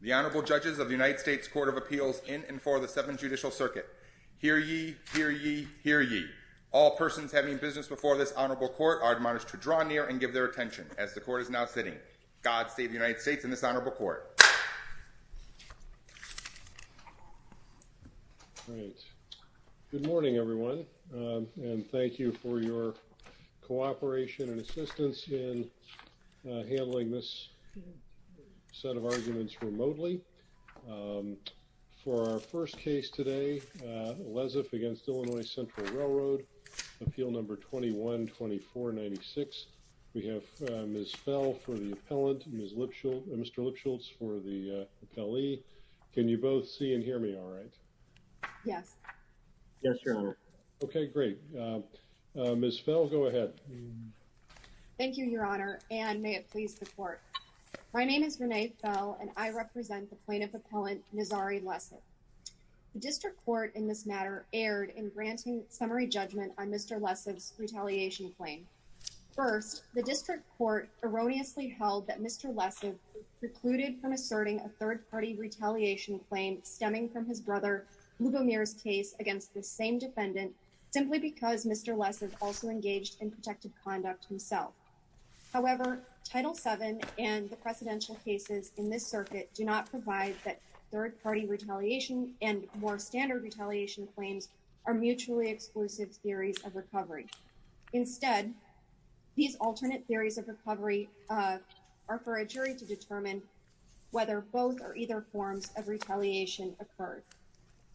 The Honorable Judges of the United States Court of Appeals in and for the Seventh Judicial Circuit. Hear ye, hear ye, hear ye. All persons having business before this honorable court are admonished to draw near and give their attention as the court is now sitting. God save the United States and this honorable court. All right, good morning everyone and thank you for your cooperation and assistance in handling this set of arguments remotely. For our first case today, Lesiv v. Illinois Central Railroad, appeal number 21-2496. We have Ms. Fell for the appellant and Mr. Lipschultz for the appellee. Can you both see and hear me all right? Yes. Yes, Your Honor. Okay, great. Ms. Fell, go ahead. Thank you, Your Honor, and may it please the court. My name is Renee Fell and I represent the plaintiff appellant, Nazari Lesiv. The district court in this matter erred in granting summary judgment on Mr. Lesiv's claim. The district court erroneously held that Mr. Lesiv precluded from asserting a third-party retaliation claim stemming from his brother Lugomir's case against the same defendant simply because Mr. Lesiv also engaged in protective conduct himself. However, Title VII and the precedential cases in this circuit do not provide that third-party retaliation and more standard retaliation claims are mutually exclusive theories of recovery. Instead, these alternate theories of recovery are for a jury to determine whether both or either forms of retaliation occurred.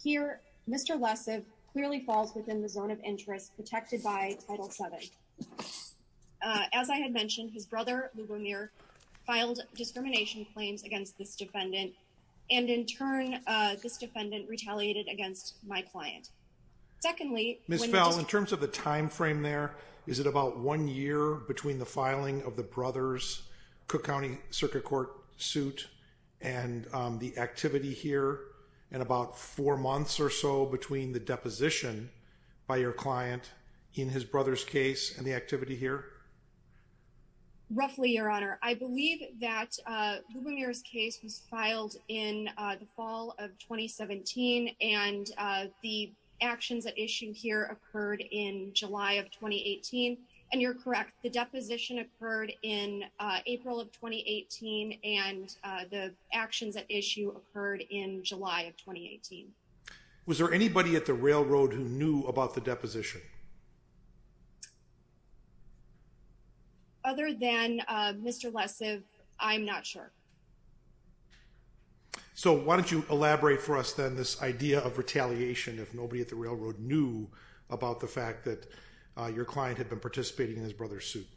Here, Mr. Lesiv clearly falls within the zone of interest protected by Title VII. As I had mentioned, his brother Lugomir filed discrimination claims against this defendant and in turn this defendant retaliated against my client. Secondly, Ms. Fell, in terms of the time frame there, is it about one year between the filing of the brother's Cook County Circuit Court suit and the activity here and about four months or so between the deposition by your client in his brother's case and the activity here? Roughly, Your Honor. I believe that Lugomir's case was filed in the fall of 2017 and the actions at issue here occurred in July of 2018 and you're correct. The deposition occurred in April of 2018 and the actions at issue occurred in July of 2018. Was there anybody at the railroad who knew about the deposition? Other than Mr. Lesiv, I'm not sure. So, why don't you elaborate for us then this idea of retaliation if nobody at the railroad knew about the fact that your client had been participating in his brother's suit?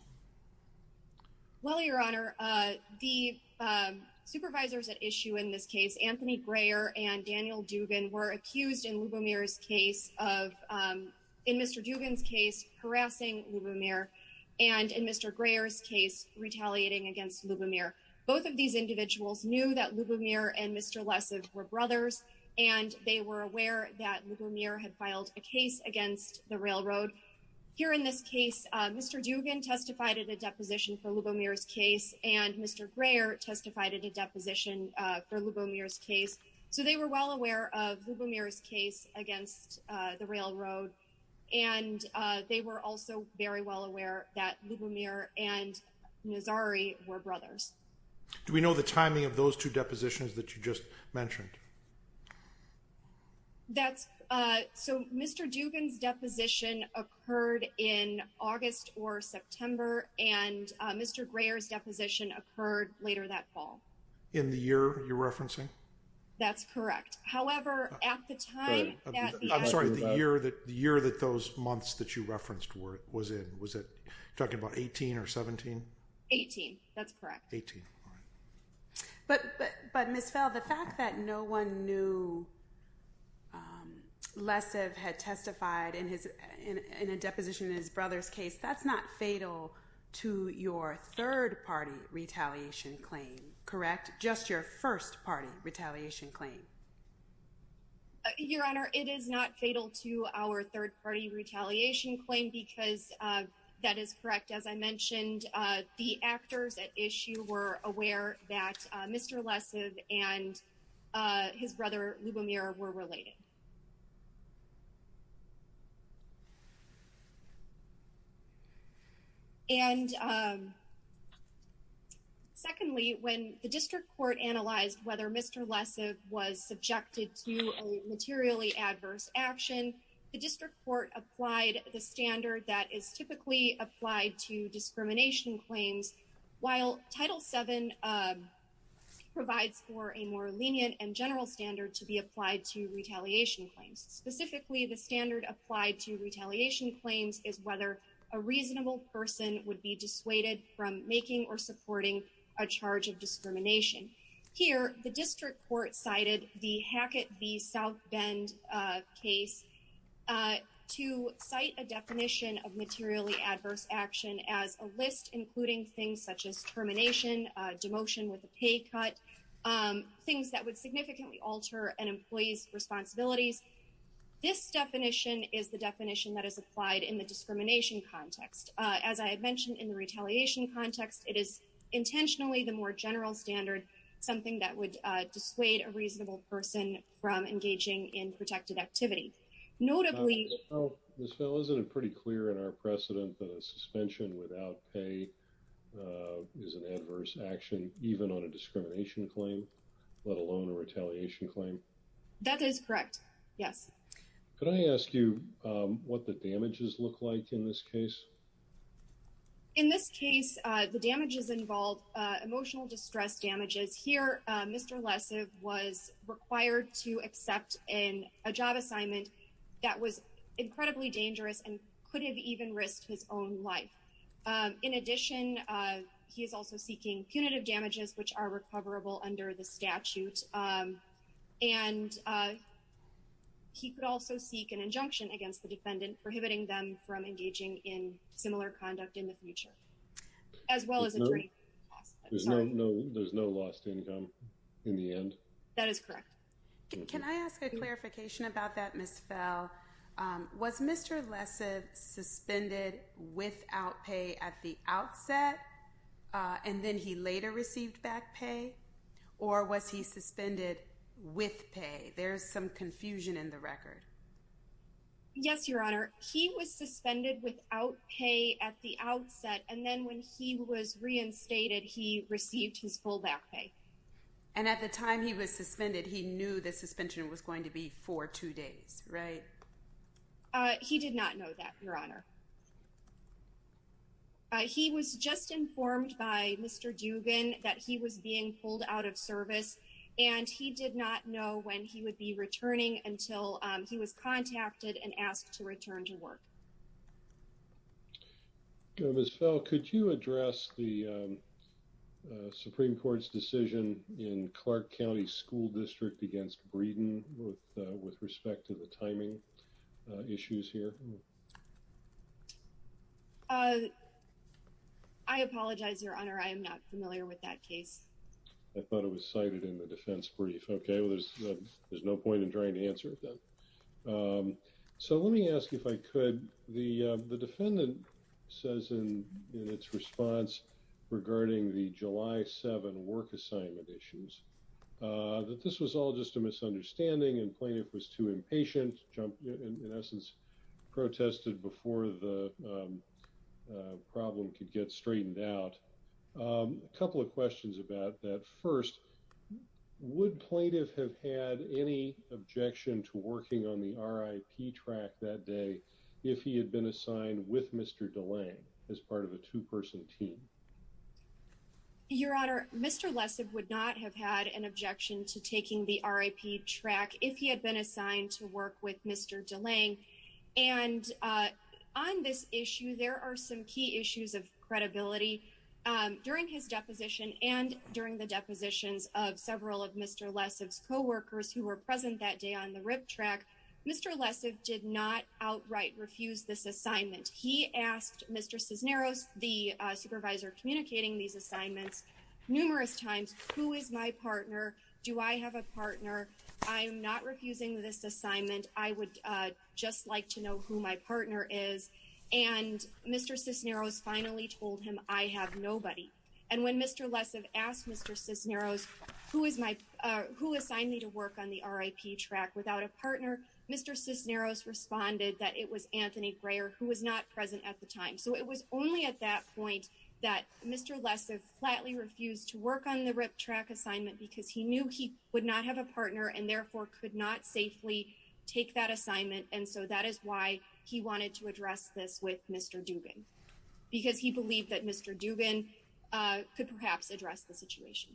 Well, Your Honor, the supervisors at issue in this case, Anthony Greyer and Daniel Dugan, were accused in Lugomir's case of, in Mr. Dugan's case, harassing Lugomir and in Mr. Greyer's case, retaliating against Lugomir. Both of these individuals knew that Lugomir and Mr. Lesiv were brothers and they were aware that Lugomir had filed a case against the railroad. Here in this case, Mr. Dugan testified at a deposition for Lugomir's case and Mr. Greyer testified at a deposition for Lugomir's case. So, they were well aware of Lugomir's case against the railroad and they were also very well aware that Lugomir and Nazari were brothers. Do we know the timing of those two depositions that you just mentioned? So, Mr. Dugan's deposition occurred in August or September and Mr. Greyer's deposition occurred later that fall. In the year you're referencing? That's correct. However, at the time... I'm sorry, the year that those months that you referenced was in, was it talking about 18 or 17? 18, that's correct. 18, all right. But Ms. Fell, the fact that no one knew Lesiv had testified in a deposition in his brother's case, that's not fatal to your third-party retaliation claim, correct? Just your first-party retaliation claim. Your Honor, it is not fatal to our third-party retaliation claim because that is correct. As I mentioned, the actors at issue were aware that Mr. Lesiv and his brother Lugomir were related. And secondly, when the district court analyzed whether Mr. Lesiv was subjected to a materially adverse action, the district court applied the standard that is typically applied to discrimination claims, while Title VII provides for a more lenient and general standard to be applied to retaliation claims. Specifically, the standard applied to retaliation claims is whether a reasonable person would be dissuaded from making or supporting a charge of discrimination. Here, the district court cited the Hackett v. South Bend case to cite a definition of materially adverse action as a list including things such as termination, demotion with a pay cut, things that would significantly alter an employee's responsibilities. This definition is the definition that is applied in the discrimination context. As I had mentioned in the retaliation context, it is intentionally the more general standard, something that would dissuade a reasonable person from engaging in protected activity. Notably— Ms. Bell, isn't it pretty clear in our precedent that a suspension without pay is an adverse action, even on a discrimination claim, let alone a retaliation claim? That is correct, yes. Could I ask you what the damages look like in this case? In this case, the damages involve emotional distress damages. Here, Mr. Lessev was required to accept a job assignment that was incredibly dangerous and could have even risked his own life. In addition, he is also seeking punitive damages, which are recoverable under the statute. And he could also seek an injunction against the defendant prohibiting them from engaging in similar conduct in the future, as well as injury. There's no lost income in the end? That is correct. Can I ask a clarification about that, Ms. Bell? Was Mr. Lessev suspended without pay at the outset and then he later received back pay, or was he suspended with pay? There's some confusion in the record. Yes, Your Honor. He was suspended without pay at the outset, and then when he was reinstated, he received his full back pay. And at the time he was suspended, he knew the suspension was going to be for two days, right? He did not know that, Your Honor. He was just informed by Mr. Dugan that he was being pulled out of service, and he did not know when he would be returning until he was contacted and asked to return to work. Ms. Bell, could you address the Supreme Court's decision in Clark County School District against Breeden with respect to the timing issues here? I apologize, Your Honor. I am not familiar with that case. I thought it was cited in the defense brief. Okay, there's no point in trying to answer it then. So let me ask, if I could, the defendant says in its response regarding the July 7 work assignment issues, that this was all just a misunderstanding and Plaintiff was too impatient, in essence, protested before the problem could get straightened out. A couple of questions about that. First, would Plaintiff have had any objection to working on the RIP track that day if he had been assigned with Mr. DeLange as part of a two-person team? Your Honor, Mr. Lessig would not have had an objection to taking the RIP track if he had assigned to work with Mr. DeLange. And on this issue, there are some key issues of credibility. During his deposition and during the depositions of several of Mr. Lessig's co-workers who were present that day on the RIP track, Mr. Lessig did not outright refuse this assignment. He asked Mr. Cisneros, the supervisor communicating these assignments, numerous times, who is my partner? And Mr. Cisneros finally told him, I have nobody. And when Mr. Lessig asked Mr. Cisneros, who assigned me to work on the RIP track without a partner, Mr. Cisneros responded that it was Anthony Breyer, who was not present at the time. So it was only at that point that Mr. Lessig flatly refused to work on the RIP track assignment because he knew he would not have a partner and therefore could not safely take that assignment. And so that is why he wanted to address this with Mr. Dubin, because he believed that Mr. Dubin could perhaps address the situation.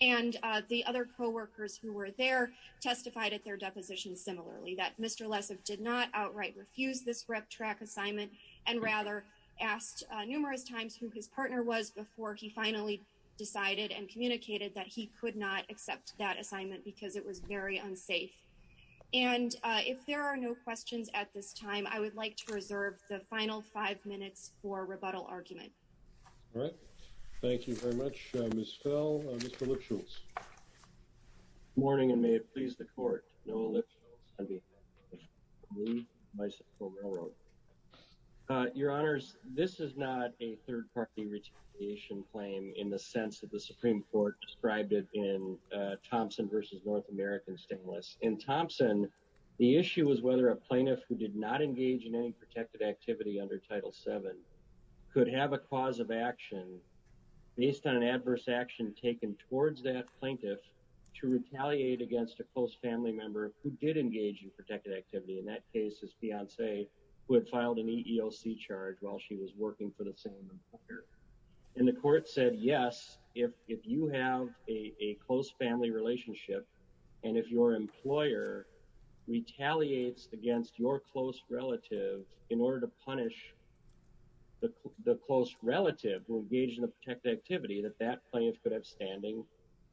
And the other co-workers who were there testified at their deposition similarly, that Mr. Lessig did not outright refuse this RIP track assignment and rather asked numerous times who his partner was before he finally decided and communicated that he could not accept that assignment because it was very unsafe. And if there are no questions at this time, I would like to reserve the final five minutes for rebuttal argument. All right. Thank you very much, Ms. Fell. Mr. Lipschultz. Good morning, and may it please the Court, Noah Lipschultz, Deputy Attorney General. Your Honors, this is not a third-party retaliation claim in the sense that the Supreme Court described it in Thompson v. North American Stainless. In Thompson, the issue was whether a plaintiff who did not engage in any protected activity under Title VII could have a cause of action based on an adverse action taken towards that plaintiff to retaliate against a close family member who did engage in protected activity. In that case, it's Beyonce who had filed an EEOC charge while she was working for the same employer. And the Court said, yes, if you have a close family relationship, and if your employer retaliates against your close relative in order to punish the close relative who engaged in a protected activity, that that is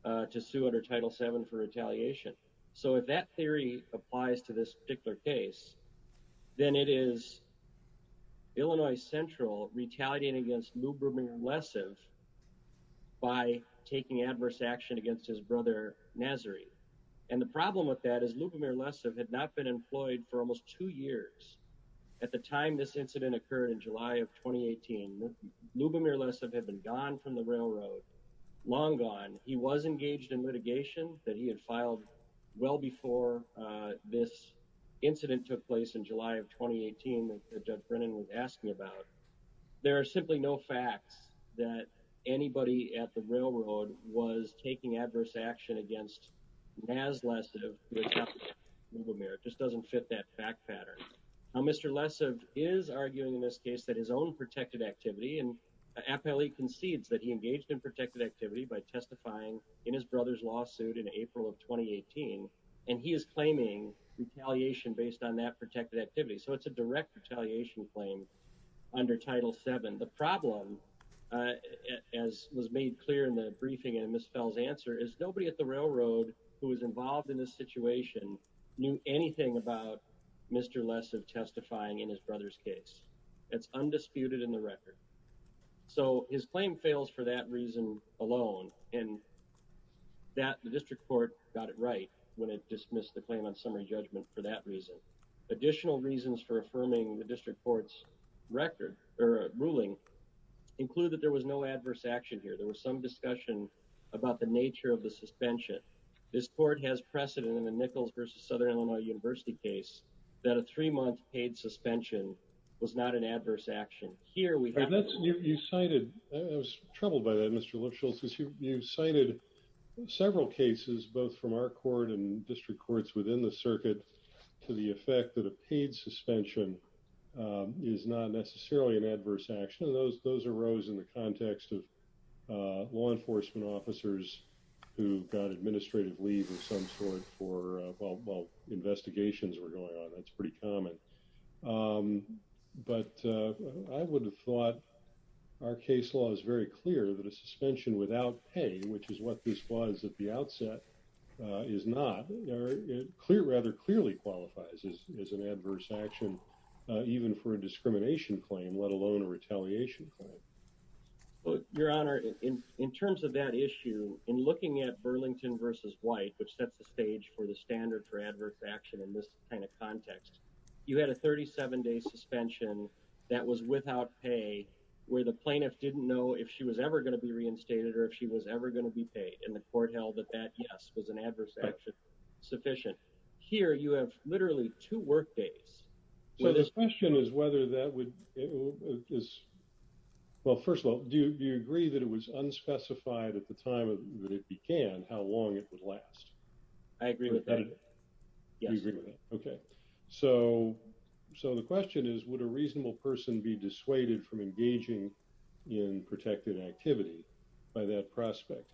a case under Title VII for retaliation. So if that theory applies to this particular case, then it is Illinois Central retaliating against Lubomir Lessev by taking adverse action against his brother, Nazari. And the problem with that is Lubomir Lessev had not been employed for almost two years. At the time this incident occurred in July of 2018, Lubomir Lessev had been gone from litigation that he had filed well before this incident took place in July of 2018 that Doug Brennan was asking about. There are simply no facts that anybody at the railroad was taking adverse action against Naz Lessev who attacked Lubomir. It just doesn't fit that fact pattern. Now, Mr. Lessev is arguing in this case that his own protected activity, and April of 2018, and he is claiming retaliation based on that protected activity. So it's a direct retaliation claim under Title VII. The problem, as was made clear in the briefing in Ms. Fell's answer, is nobody at the railroad who was involved in this situation knew anything about Mr. Lessev testifying in his brother's case. It's undisputed in the record. So his claim fails for that reason alone, and the district court got it right when it dismissed the claim on summary judgment for that reason. Additional reasons for affirming the district court's ruling include that there was no adverse action here. There was some discussion about the nature of the suspension. This court has precedent in the Nichols v. Southern Illinois University case that a three-month paid suspension was not an adverse action. I was troubled by that, Mr. Lipschultz, because you cited several cases, both from our court and district courts within the circuit, to the effect that a paid suspension is not necessarily an adverse action. Those arose in the context of law enforcement officers who got administrative leave of some sort while investigations were ongoing, and that's a pretty common. But I would have thought our case law is very clear that a suspension without pay, which is what this was at the outset, is not. It rather clearly qualifies as an adverse action, even for a discrimination claim, let alone a retaliation claim. Your Honor, in terms of that issue, in looking at Burlington v. White, which sets the stage for adverse action in this kind of context, you had a 37-day suspension that was without pay, where the plaintiff didn't know if she was ever going to be reinstated or if she was ever going to be paid, and the court held that that, yes, was an adverse action sufficient. Here, you have literally two work days. So the question is whether that would... Well, first of all, do you agree that it was unspecified at the time that it began how long it would last? I agree with that. You agree with that? Okay. So the question is, would a reasonable person be dissuaded from engaging in protected activity by that prospect?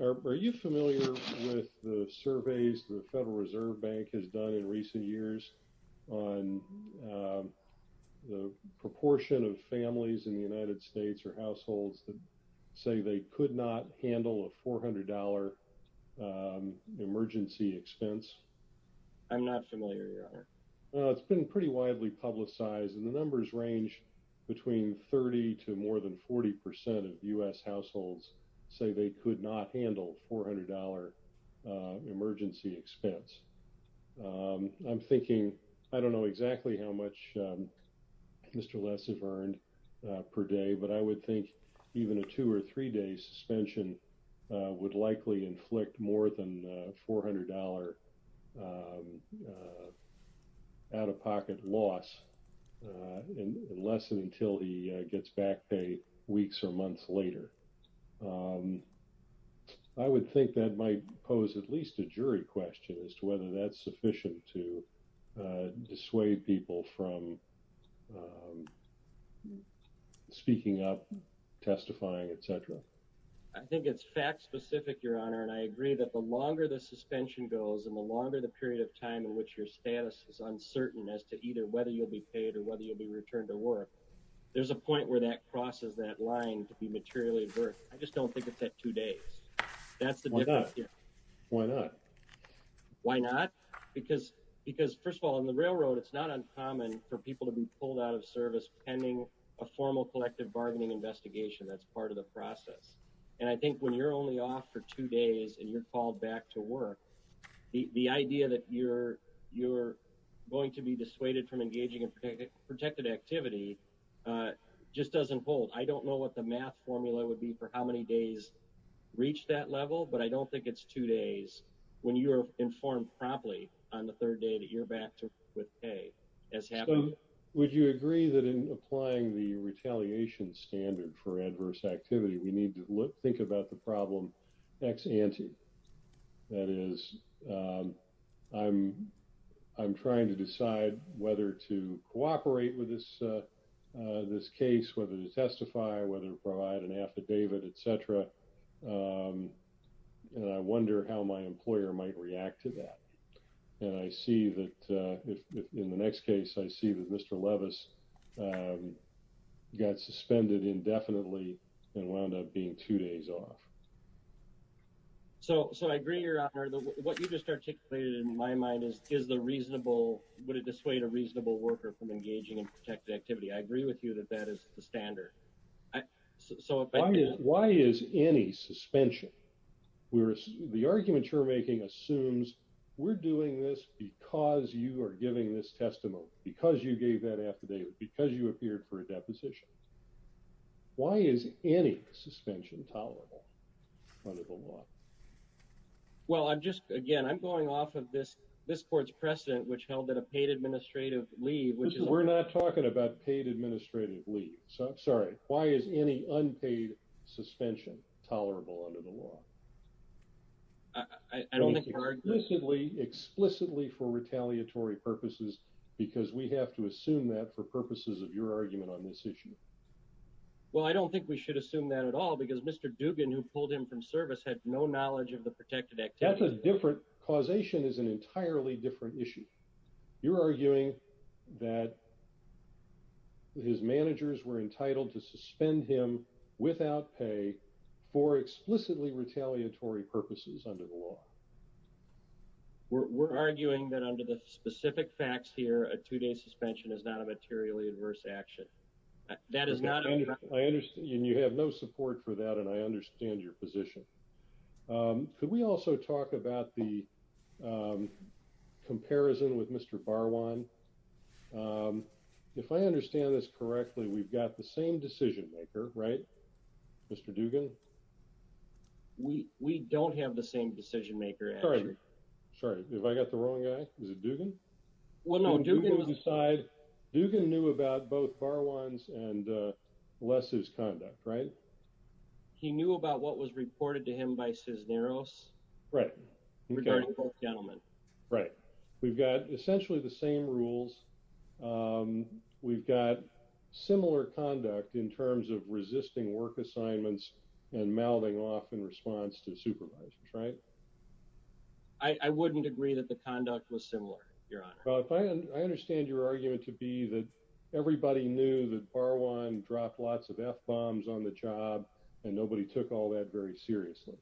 Are you familiar with the surveys the Federal Reserve Bank has done in recent years on the proportion of families in the United States or say they could not handle a $400 emergency expense? I'm not familiar, Your Honor. It's been pretty widely publicized, and the numbers range between 30 to more than 40% of U.S. households say they could not handle $400 emergency expense. I'm thinking, I don't know exactly how much Mr. Less have earned per day, but I would think even a two- or three-day suspension would likely inflict more than a $400 out-of-pocket loss unless and until he gets back pay weeks or months later. I would think that might pose at least a jury question as to whether that's sufficient to dissuade people from speaking up, testifying, et cetera. I think it's fact-specific, Your Honor, and I agree that the longer the suspension goes and the longer the period of time in which your status is uncertain as to either whether you'll be paid or whether you'll be returned to work, there's a point where that crosses that line to be materially worth. I just don't think it's at two days. That's the difference here. Why not? Why not? Because first of all, on the railroad, it's not uncommon for people to be pulled out of service pending a formal collective bargaining investigation. That's part of the process. And I think when you're only off for two days and you're called back to work, the idea that you're going to be dissuaded from engaging in protected activity just doesn't hold. I don't know what the math formula would be for how many days reach that level, but I don't think it's two days when you're informed promptly on the third day that you're back to work with pay. Would you agree that in applying the retaliation standard for adverse activity, we need to think about the problem ex ante? That is, I'm trying to decide whether to cooperate with this case, whether to testify, whether to provide an affidavit, etc. And I wonder how my employer might react to that. And I see that in the next case, I see that Mr. Levis got suspended indefinitely and wound up being two days off. So I agree, Your Honor. What you just articulated in my mind is, is the reasonable, would it dissuade a reasonable worker from engaging in protected activity? I agree with you that that is the standard. So why is any suspension? The argument you're making assumes we're doing this because you are giving this testimony, because you gave that affidavit, because you appeared for a deposition. Why is any suspension tolerable under the law? Well, I'm just, again, I'm going off of this, this court's precedent, which held that a paid administrative leave, which is, we're not talking about paid administrative leave. So I'm sorry. Why is any unpaid suspension tolerable under the law? I don't think explicitly, explicitly for retaliatory purposes, because we have to assume that for purposes of your argument on this issue. Well, I don't think we should assume that at all, because Mr. Dubin, who pulled him from service had no knowledge of the protected activity. That's a different causation is an entirely different issue. You're arguing that his managers were entitled to suspend him without pay for explicitly retaliatory purposes under the law. We're arguing that under the specific facts here, a two-day suspension is not a materially adverse action. That is not. I understand you have no support for that, and I understand your position. Could we also talk about the comparison with Mr. Barwan? If I understand this correctly, we've got the same decision maker, right? Mr. Dugan? We don't have the same decision maker. Sorry. Sorry. Have I got the wrong guy? Is it Dugan? Well, no. Dugan knew about both Barwans and Les' conduct, right? He knew about what was reported to him by Cisneros? Right. Regarding both gentlemen. Right. We've got essentially the same rules. We've got similar conduct in terms of resisting work assignments and mouthing off in response to supervisors, right? I wouldn't agree that the conduct was similar, Your Honor. Well, if I understand your argument to be that everybody knew that Barwan dropped lots of F-bombs on the job and nobody took all that very seriously,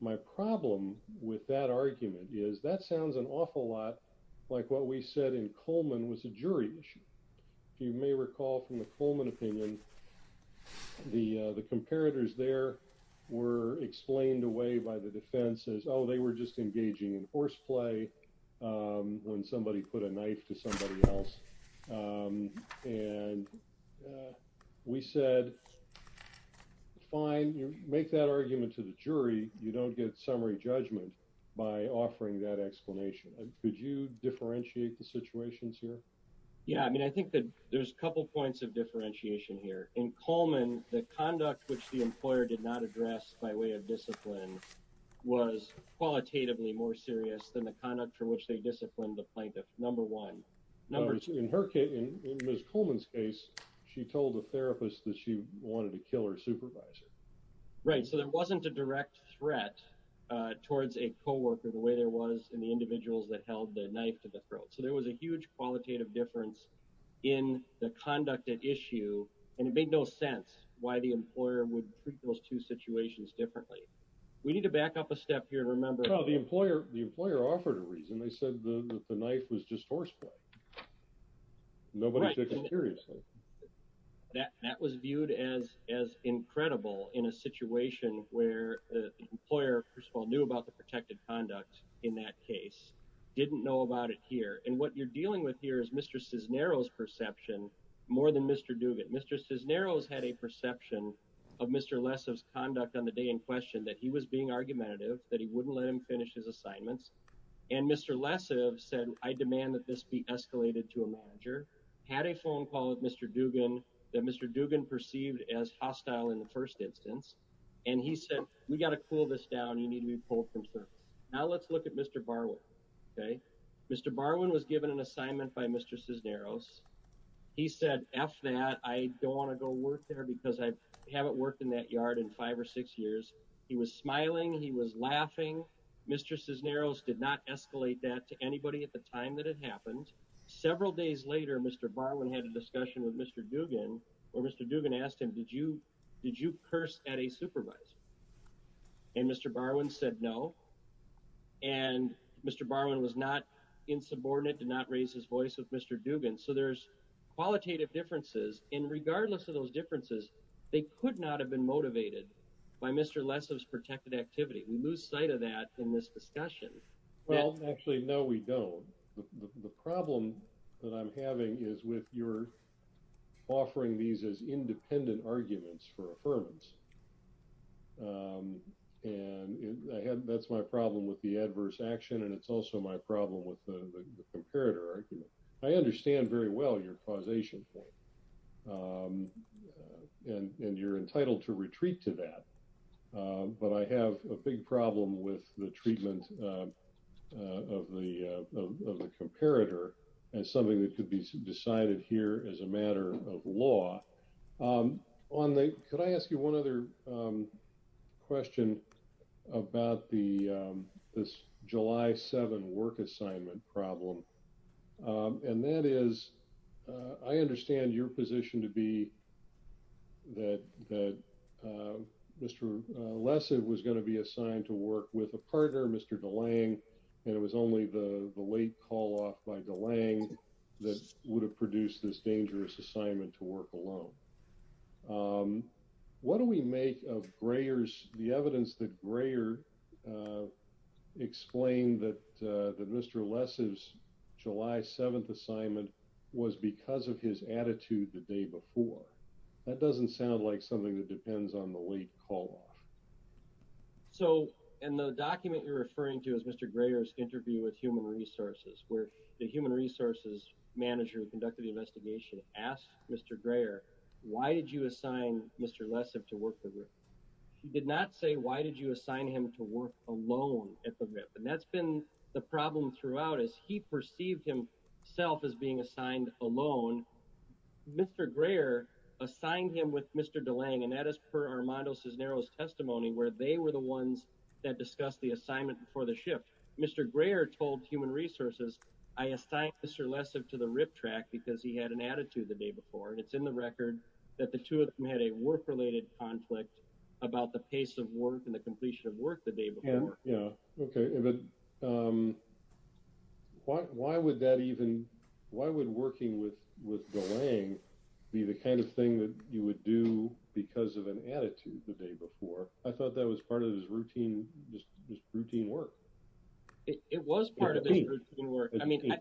my problem with that argument is that sounds an awful lot like what we said in Coleman was a jury issue. If you may recall from the Coleman opinion, the comparators there were explained away by the defense as, oh, they were just engaging in horseplay when somebody put a knife to somebody else. And we said, fine, make that argument to the jury. You don't get summary judgment by offering that explanation. Could you differentiate the situations here? Yeah. I mean, I think that there's a couple points of differentiation here. In Coleman, the conduct which the employer did not address by way of discipline was qualitatively more serious than the conduct for which they disciplined the plaintiff, number one. In her case, in Ms. Coleman's case, she told the therapist that she wanted to kill her supervisor. Right. So there wasn't a direct threat towards a coworker the way there was in the individuals that held the knife to the throat. So there was a huge qualitative difference in the conduct at issue. And it made no sense why the employer would treat those two situations differently. We need to back up a step here and remember. Well, the employer offered a reason. They said the knife was just horseplay. Nobody took it seriously. That was viewed as incredible in a situation where the employer, first of all, knew about the protected conduct in that case, didn't know about it here. And what you're dealing with here is Mr. Cisneros' perception more than Mr. Duvitt. Mr. Cisneros had a perception of Mr. Lessive's conduct on the day in question that he was being argumentative, that he wouldn't let him finish his assignments. And Mr. Lessive said, I demand that this be escalated to a manager. Had a phone call with Mr. Duggan that Mr. Duggan perceived as hostile in the first instance. And he said, we got to cool this down. You need to be pulled from service. Now let's look at Mr. Barwin. Okay. Mr. Barwin was given an assignment by Mr. Cisneros. He said, F that. I don't want to go work there because I haven't worked in that yard in five or six years. He was smiling. He was laughing. Mr. Cisneros did not escalate that to anybody at the time that it happened. Several days later, Mr. Barwin had a discussion with Mr. Duggan where Mr. Duggan asked him, did you, did you curse at a supervisor? And Mr. Barwin said no. And Mr. Barwin was not insubordinate, did not raise his voice with Mr. Duggan. So there's a lot of differences. And regardless of those differences, they could not have been motivated by Mr. Less's protected activity. We lose sight of that in this discussion. Well, actually, no, we don't. The problem that I'm having is with your offering these as independent arguments for affirmance. And I had, that's my problem with the adverse action. And it's also my problem with the causation point. And, and you're entitled to retreat to that. But I have a big problem with the treatment of the, of the comparator as something that could be decided here as a matter of law. On the, could I ask you one other question about the, this July 7 work assignment problem? And that is, I understand your position to be that, that Mr. Less was going to be assigned to work with a partner, Mr. DeLang. And it was only the late call off by DeLang that would have produced this dangerous assignment to work alone. What do we make of Greyer's, the evidence that explain that, that Mr. Less's July 7th assignment was because of his attitude the day before. That doesn't sound like something that depends on the late call off. So, and the document you're referring to is Mr. Greyer's interview with human resources, where the human resources manager who conducted the investigation asked Mr. Greyer, why did you assign Mr. Less to work the group? He did not say, why did you assign him to work alone at the RIP? And that's been the problem throughout is he perceived himself as being assigned alone. Mr. Greyer assigned him with Mr. DeLang and that is per Armando Cisneros testimony where they were the ones that discussed the assignment before the shift. Mr. Greyer told human resources, I assigned Mr. Less to the RIP track because he had an attitude the day before. And it's in the record that the two of them had a work related conflict about the pace of work and the completion of work the day before. Yeah. Okay. But why would that even, why would working with DeLang be the kind of thing that you would do because of an attitude the day before? I thought that was part of his routine, just routine work. It was part of his routine work. I mean,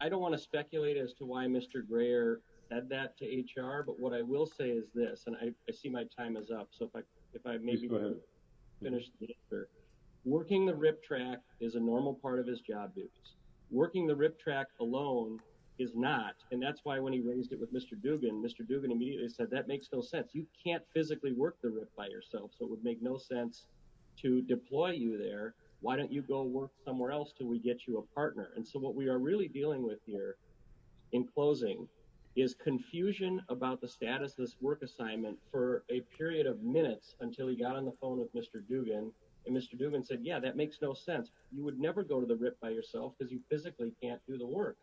I don't want to speculate as to why Mr. Greyer had that to HR, but what I will say is this, and I see my time is up. So if I, if I maybe finish working, the RIP track is a normal part of his job duties, working the RIP track alone is not. And that's why when he raised it with Mr. Dugan, Mr. Dugan immediately said, that makes no sense. You can't physically work the RIP by yourself. So it would make no sense to deploy you there. Why don't you go work somewhere else? Can we get you a partner? And so what we are really dealing with here in closing is confusion about the status of this work assignment for a period of minutes until he got on the phone with Mr. Dugan and Mr. Dugan said, yeah, that makes no sense. You would never go to the RIP by yourself because you physically can't do the work.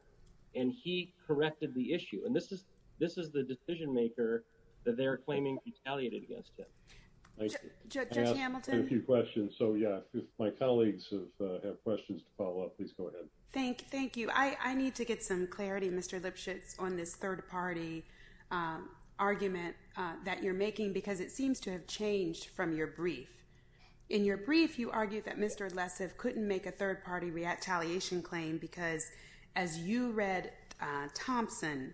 And he corrected the issue. And this is, this is the decision maker that they're claiming retaliated against him. I have a few questions. So yeah, my colleagues have questions to follow up. Please go ahead. Thank you. I need to get some clarity, Mr. Lipschitz, on this third party argument that you're making, because it seems to have changed from your brief. In your brief, you argued that Mr. Lessef couldn't make a third party retaliation claim because as you read Thompson,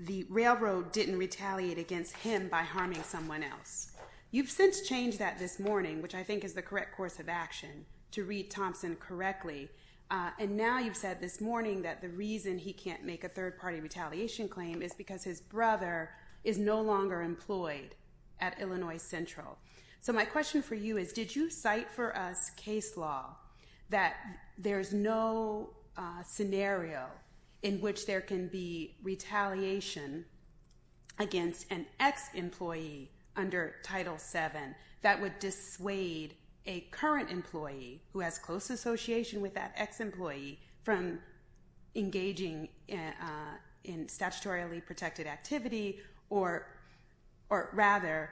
the railroad didn't retaliate against him by harming someone else. You've since changed that this morning, which I think is the correct course of action to read Thompson correctly. And now you've said this morning that the reason he can't make a third party retaliation claim is because his brother is no longer employed at Illinois Central. So my question for you is, did you cite for us case law that there's no scenario in which there can be retaliation against an ex-employee under Title VII that would dissuade a current employee who has close association with that ex-employee from engaging in statutorily protected activity, or rather,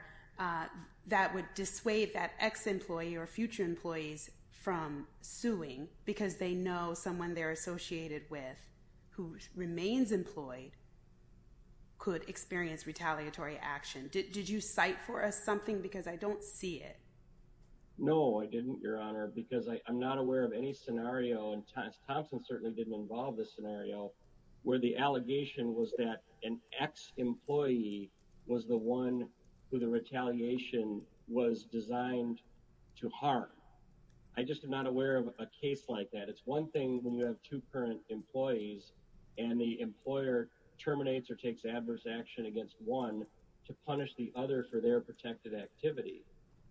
that would dissuade that ex-employee or future employees from suing because they know someone they're associated with, who remains employed, could experience retaliatory action? Did you cite for us something? Because I don't see it. No, I didn't, Your Honor, because I'm not aware of any scenario, and Thompson certainly didn't involve this scenario, where the allegation was that an ex-employee was the one who the current employees and the employer terminates or takes adverse action against one to punish the other for their protected activity.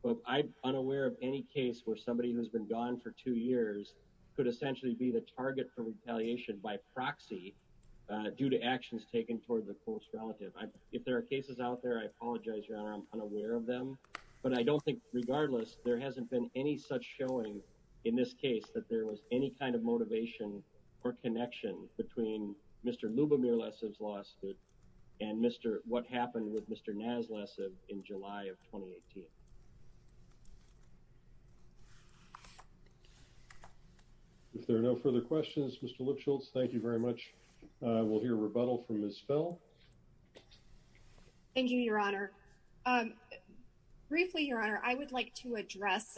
But I'm unaware of any case where somebody who's been gone for two years could essentially be the target for retaliation by proxy due to actions taken toward the close relative. If there are cases out there, I apologize, Your Honor, I'm unaware of them. But I don't think, regardless, there hasn't been any such showing in this case that there was any kind of motivation or connection between Mr. Lubomir Lessev's lawsuit and what happened with Mr. Naz Lessev in July of 2018. If there are no further questions, Mr. Lipschultz, thank you very much. We'll hear rebuttal from Ms. Fell. Thank you, Your Honor. Briefly, Your Honor, I would like to address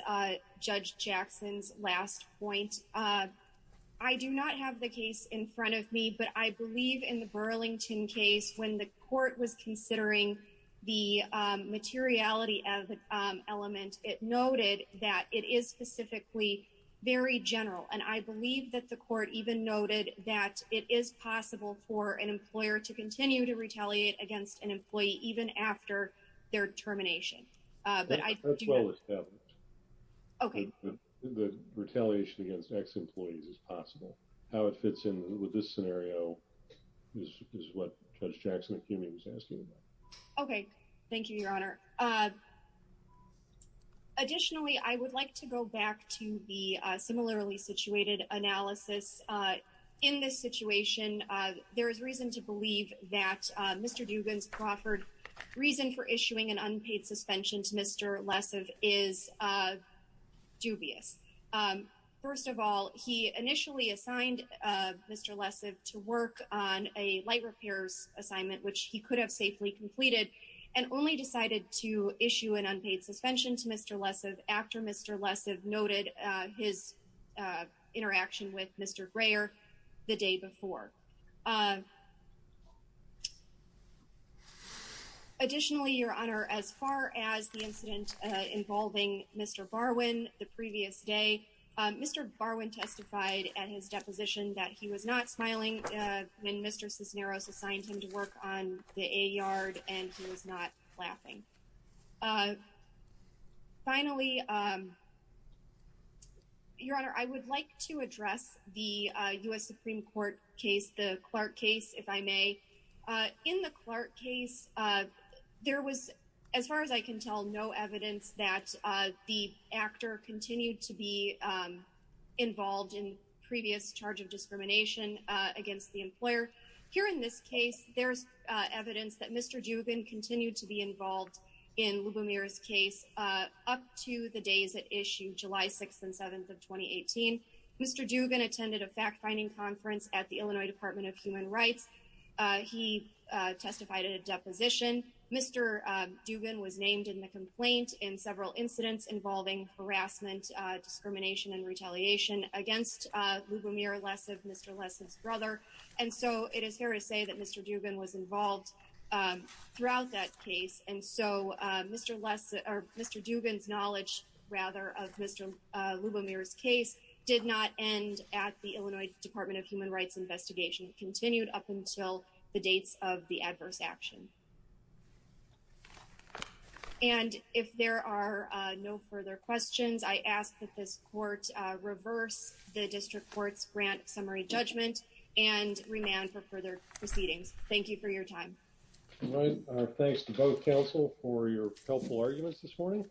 Judge Jackson's last point. I do not have the case in front of me, but I believe in the Burlington case, when the court was considering the materiality of the element, it noted that it is specifically very general. And I believe that the court even noted that it is possible for an employer to continue to retaliate against an employee even after their termination. Okay, the retaliation against ex-employees is possible. How it fits in with this scenario is what Judge Jackson was asking about. Okay, thank you, Your Honor. Additionally, I would like to go back to the similarly situated analysis. In this situation, there is reason to believe that Mr. Dugan's proffered reason for issuing an unpaid suspension to Mr. Lessev is dubious. First of all, he initially assigned Mr. Lessev to work on a light repairs assignment, which he could have safely completed, and only decided to issue an unpaid suspension to Mr. Lessev after Mr. Lessev noted his interaction with Mr. Greer the day before. Additionally, Your Honor, as far as the incident involving Mr. Barwin the previous day, Mr. Barwin testified at his deposition that he was not smiling when Mr. Cisneros assigned him to work on the A yard and he was not laughing. Finally, Your Honor, I would like to address the U.S. Supreme Court case, the Clark case, if I may. In the Clark case, there was, as far as I can tell, no evidence that the actor continued to be involved in previous charge of discrimination against the employer. Here in this case, there's evidence that Mr. Dugan continued to be involved in Lubomir's case up to the days it issued, July 6th and 7th of 2018. Mr. Dugan attended a fact-finding conference at the Illinois Department of Human Rights. He testified at a deposition. Mr. Dugan was named in the complaint in several incidents involving harassment, discrimination, and retaliation against Lubomir Lessev, Mr. Lessev's brother, and so it is fair to say that Mr. Dugan was involved throughout that case, and so Mr. Dugan's knowledge, rather, of Mr. Lubomir's case did not end at the Illinois Department of Human Rights investigation. It continued up until the dates of the adverse action. And if there are no further questions, I ask that this Court reverse the District Court's grant summary judgment and remand for further proceedings. Thank you for your time. All right. Thanks to both counsel for your helpful arguments this morning.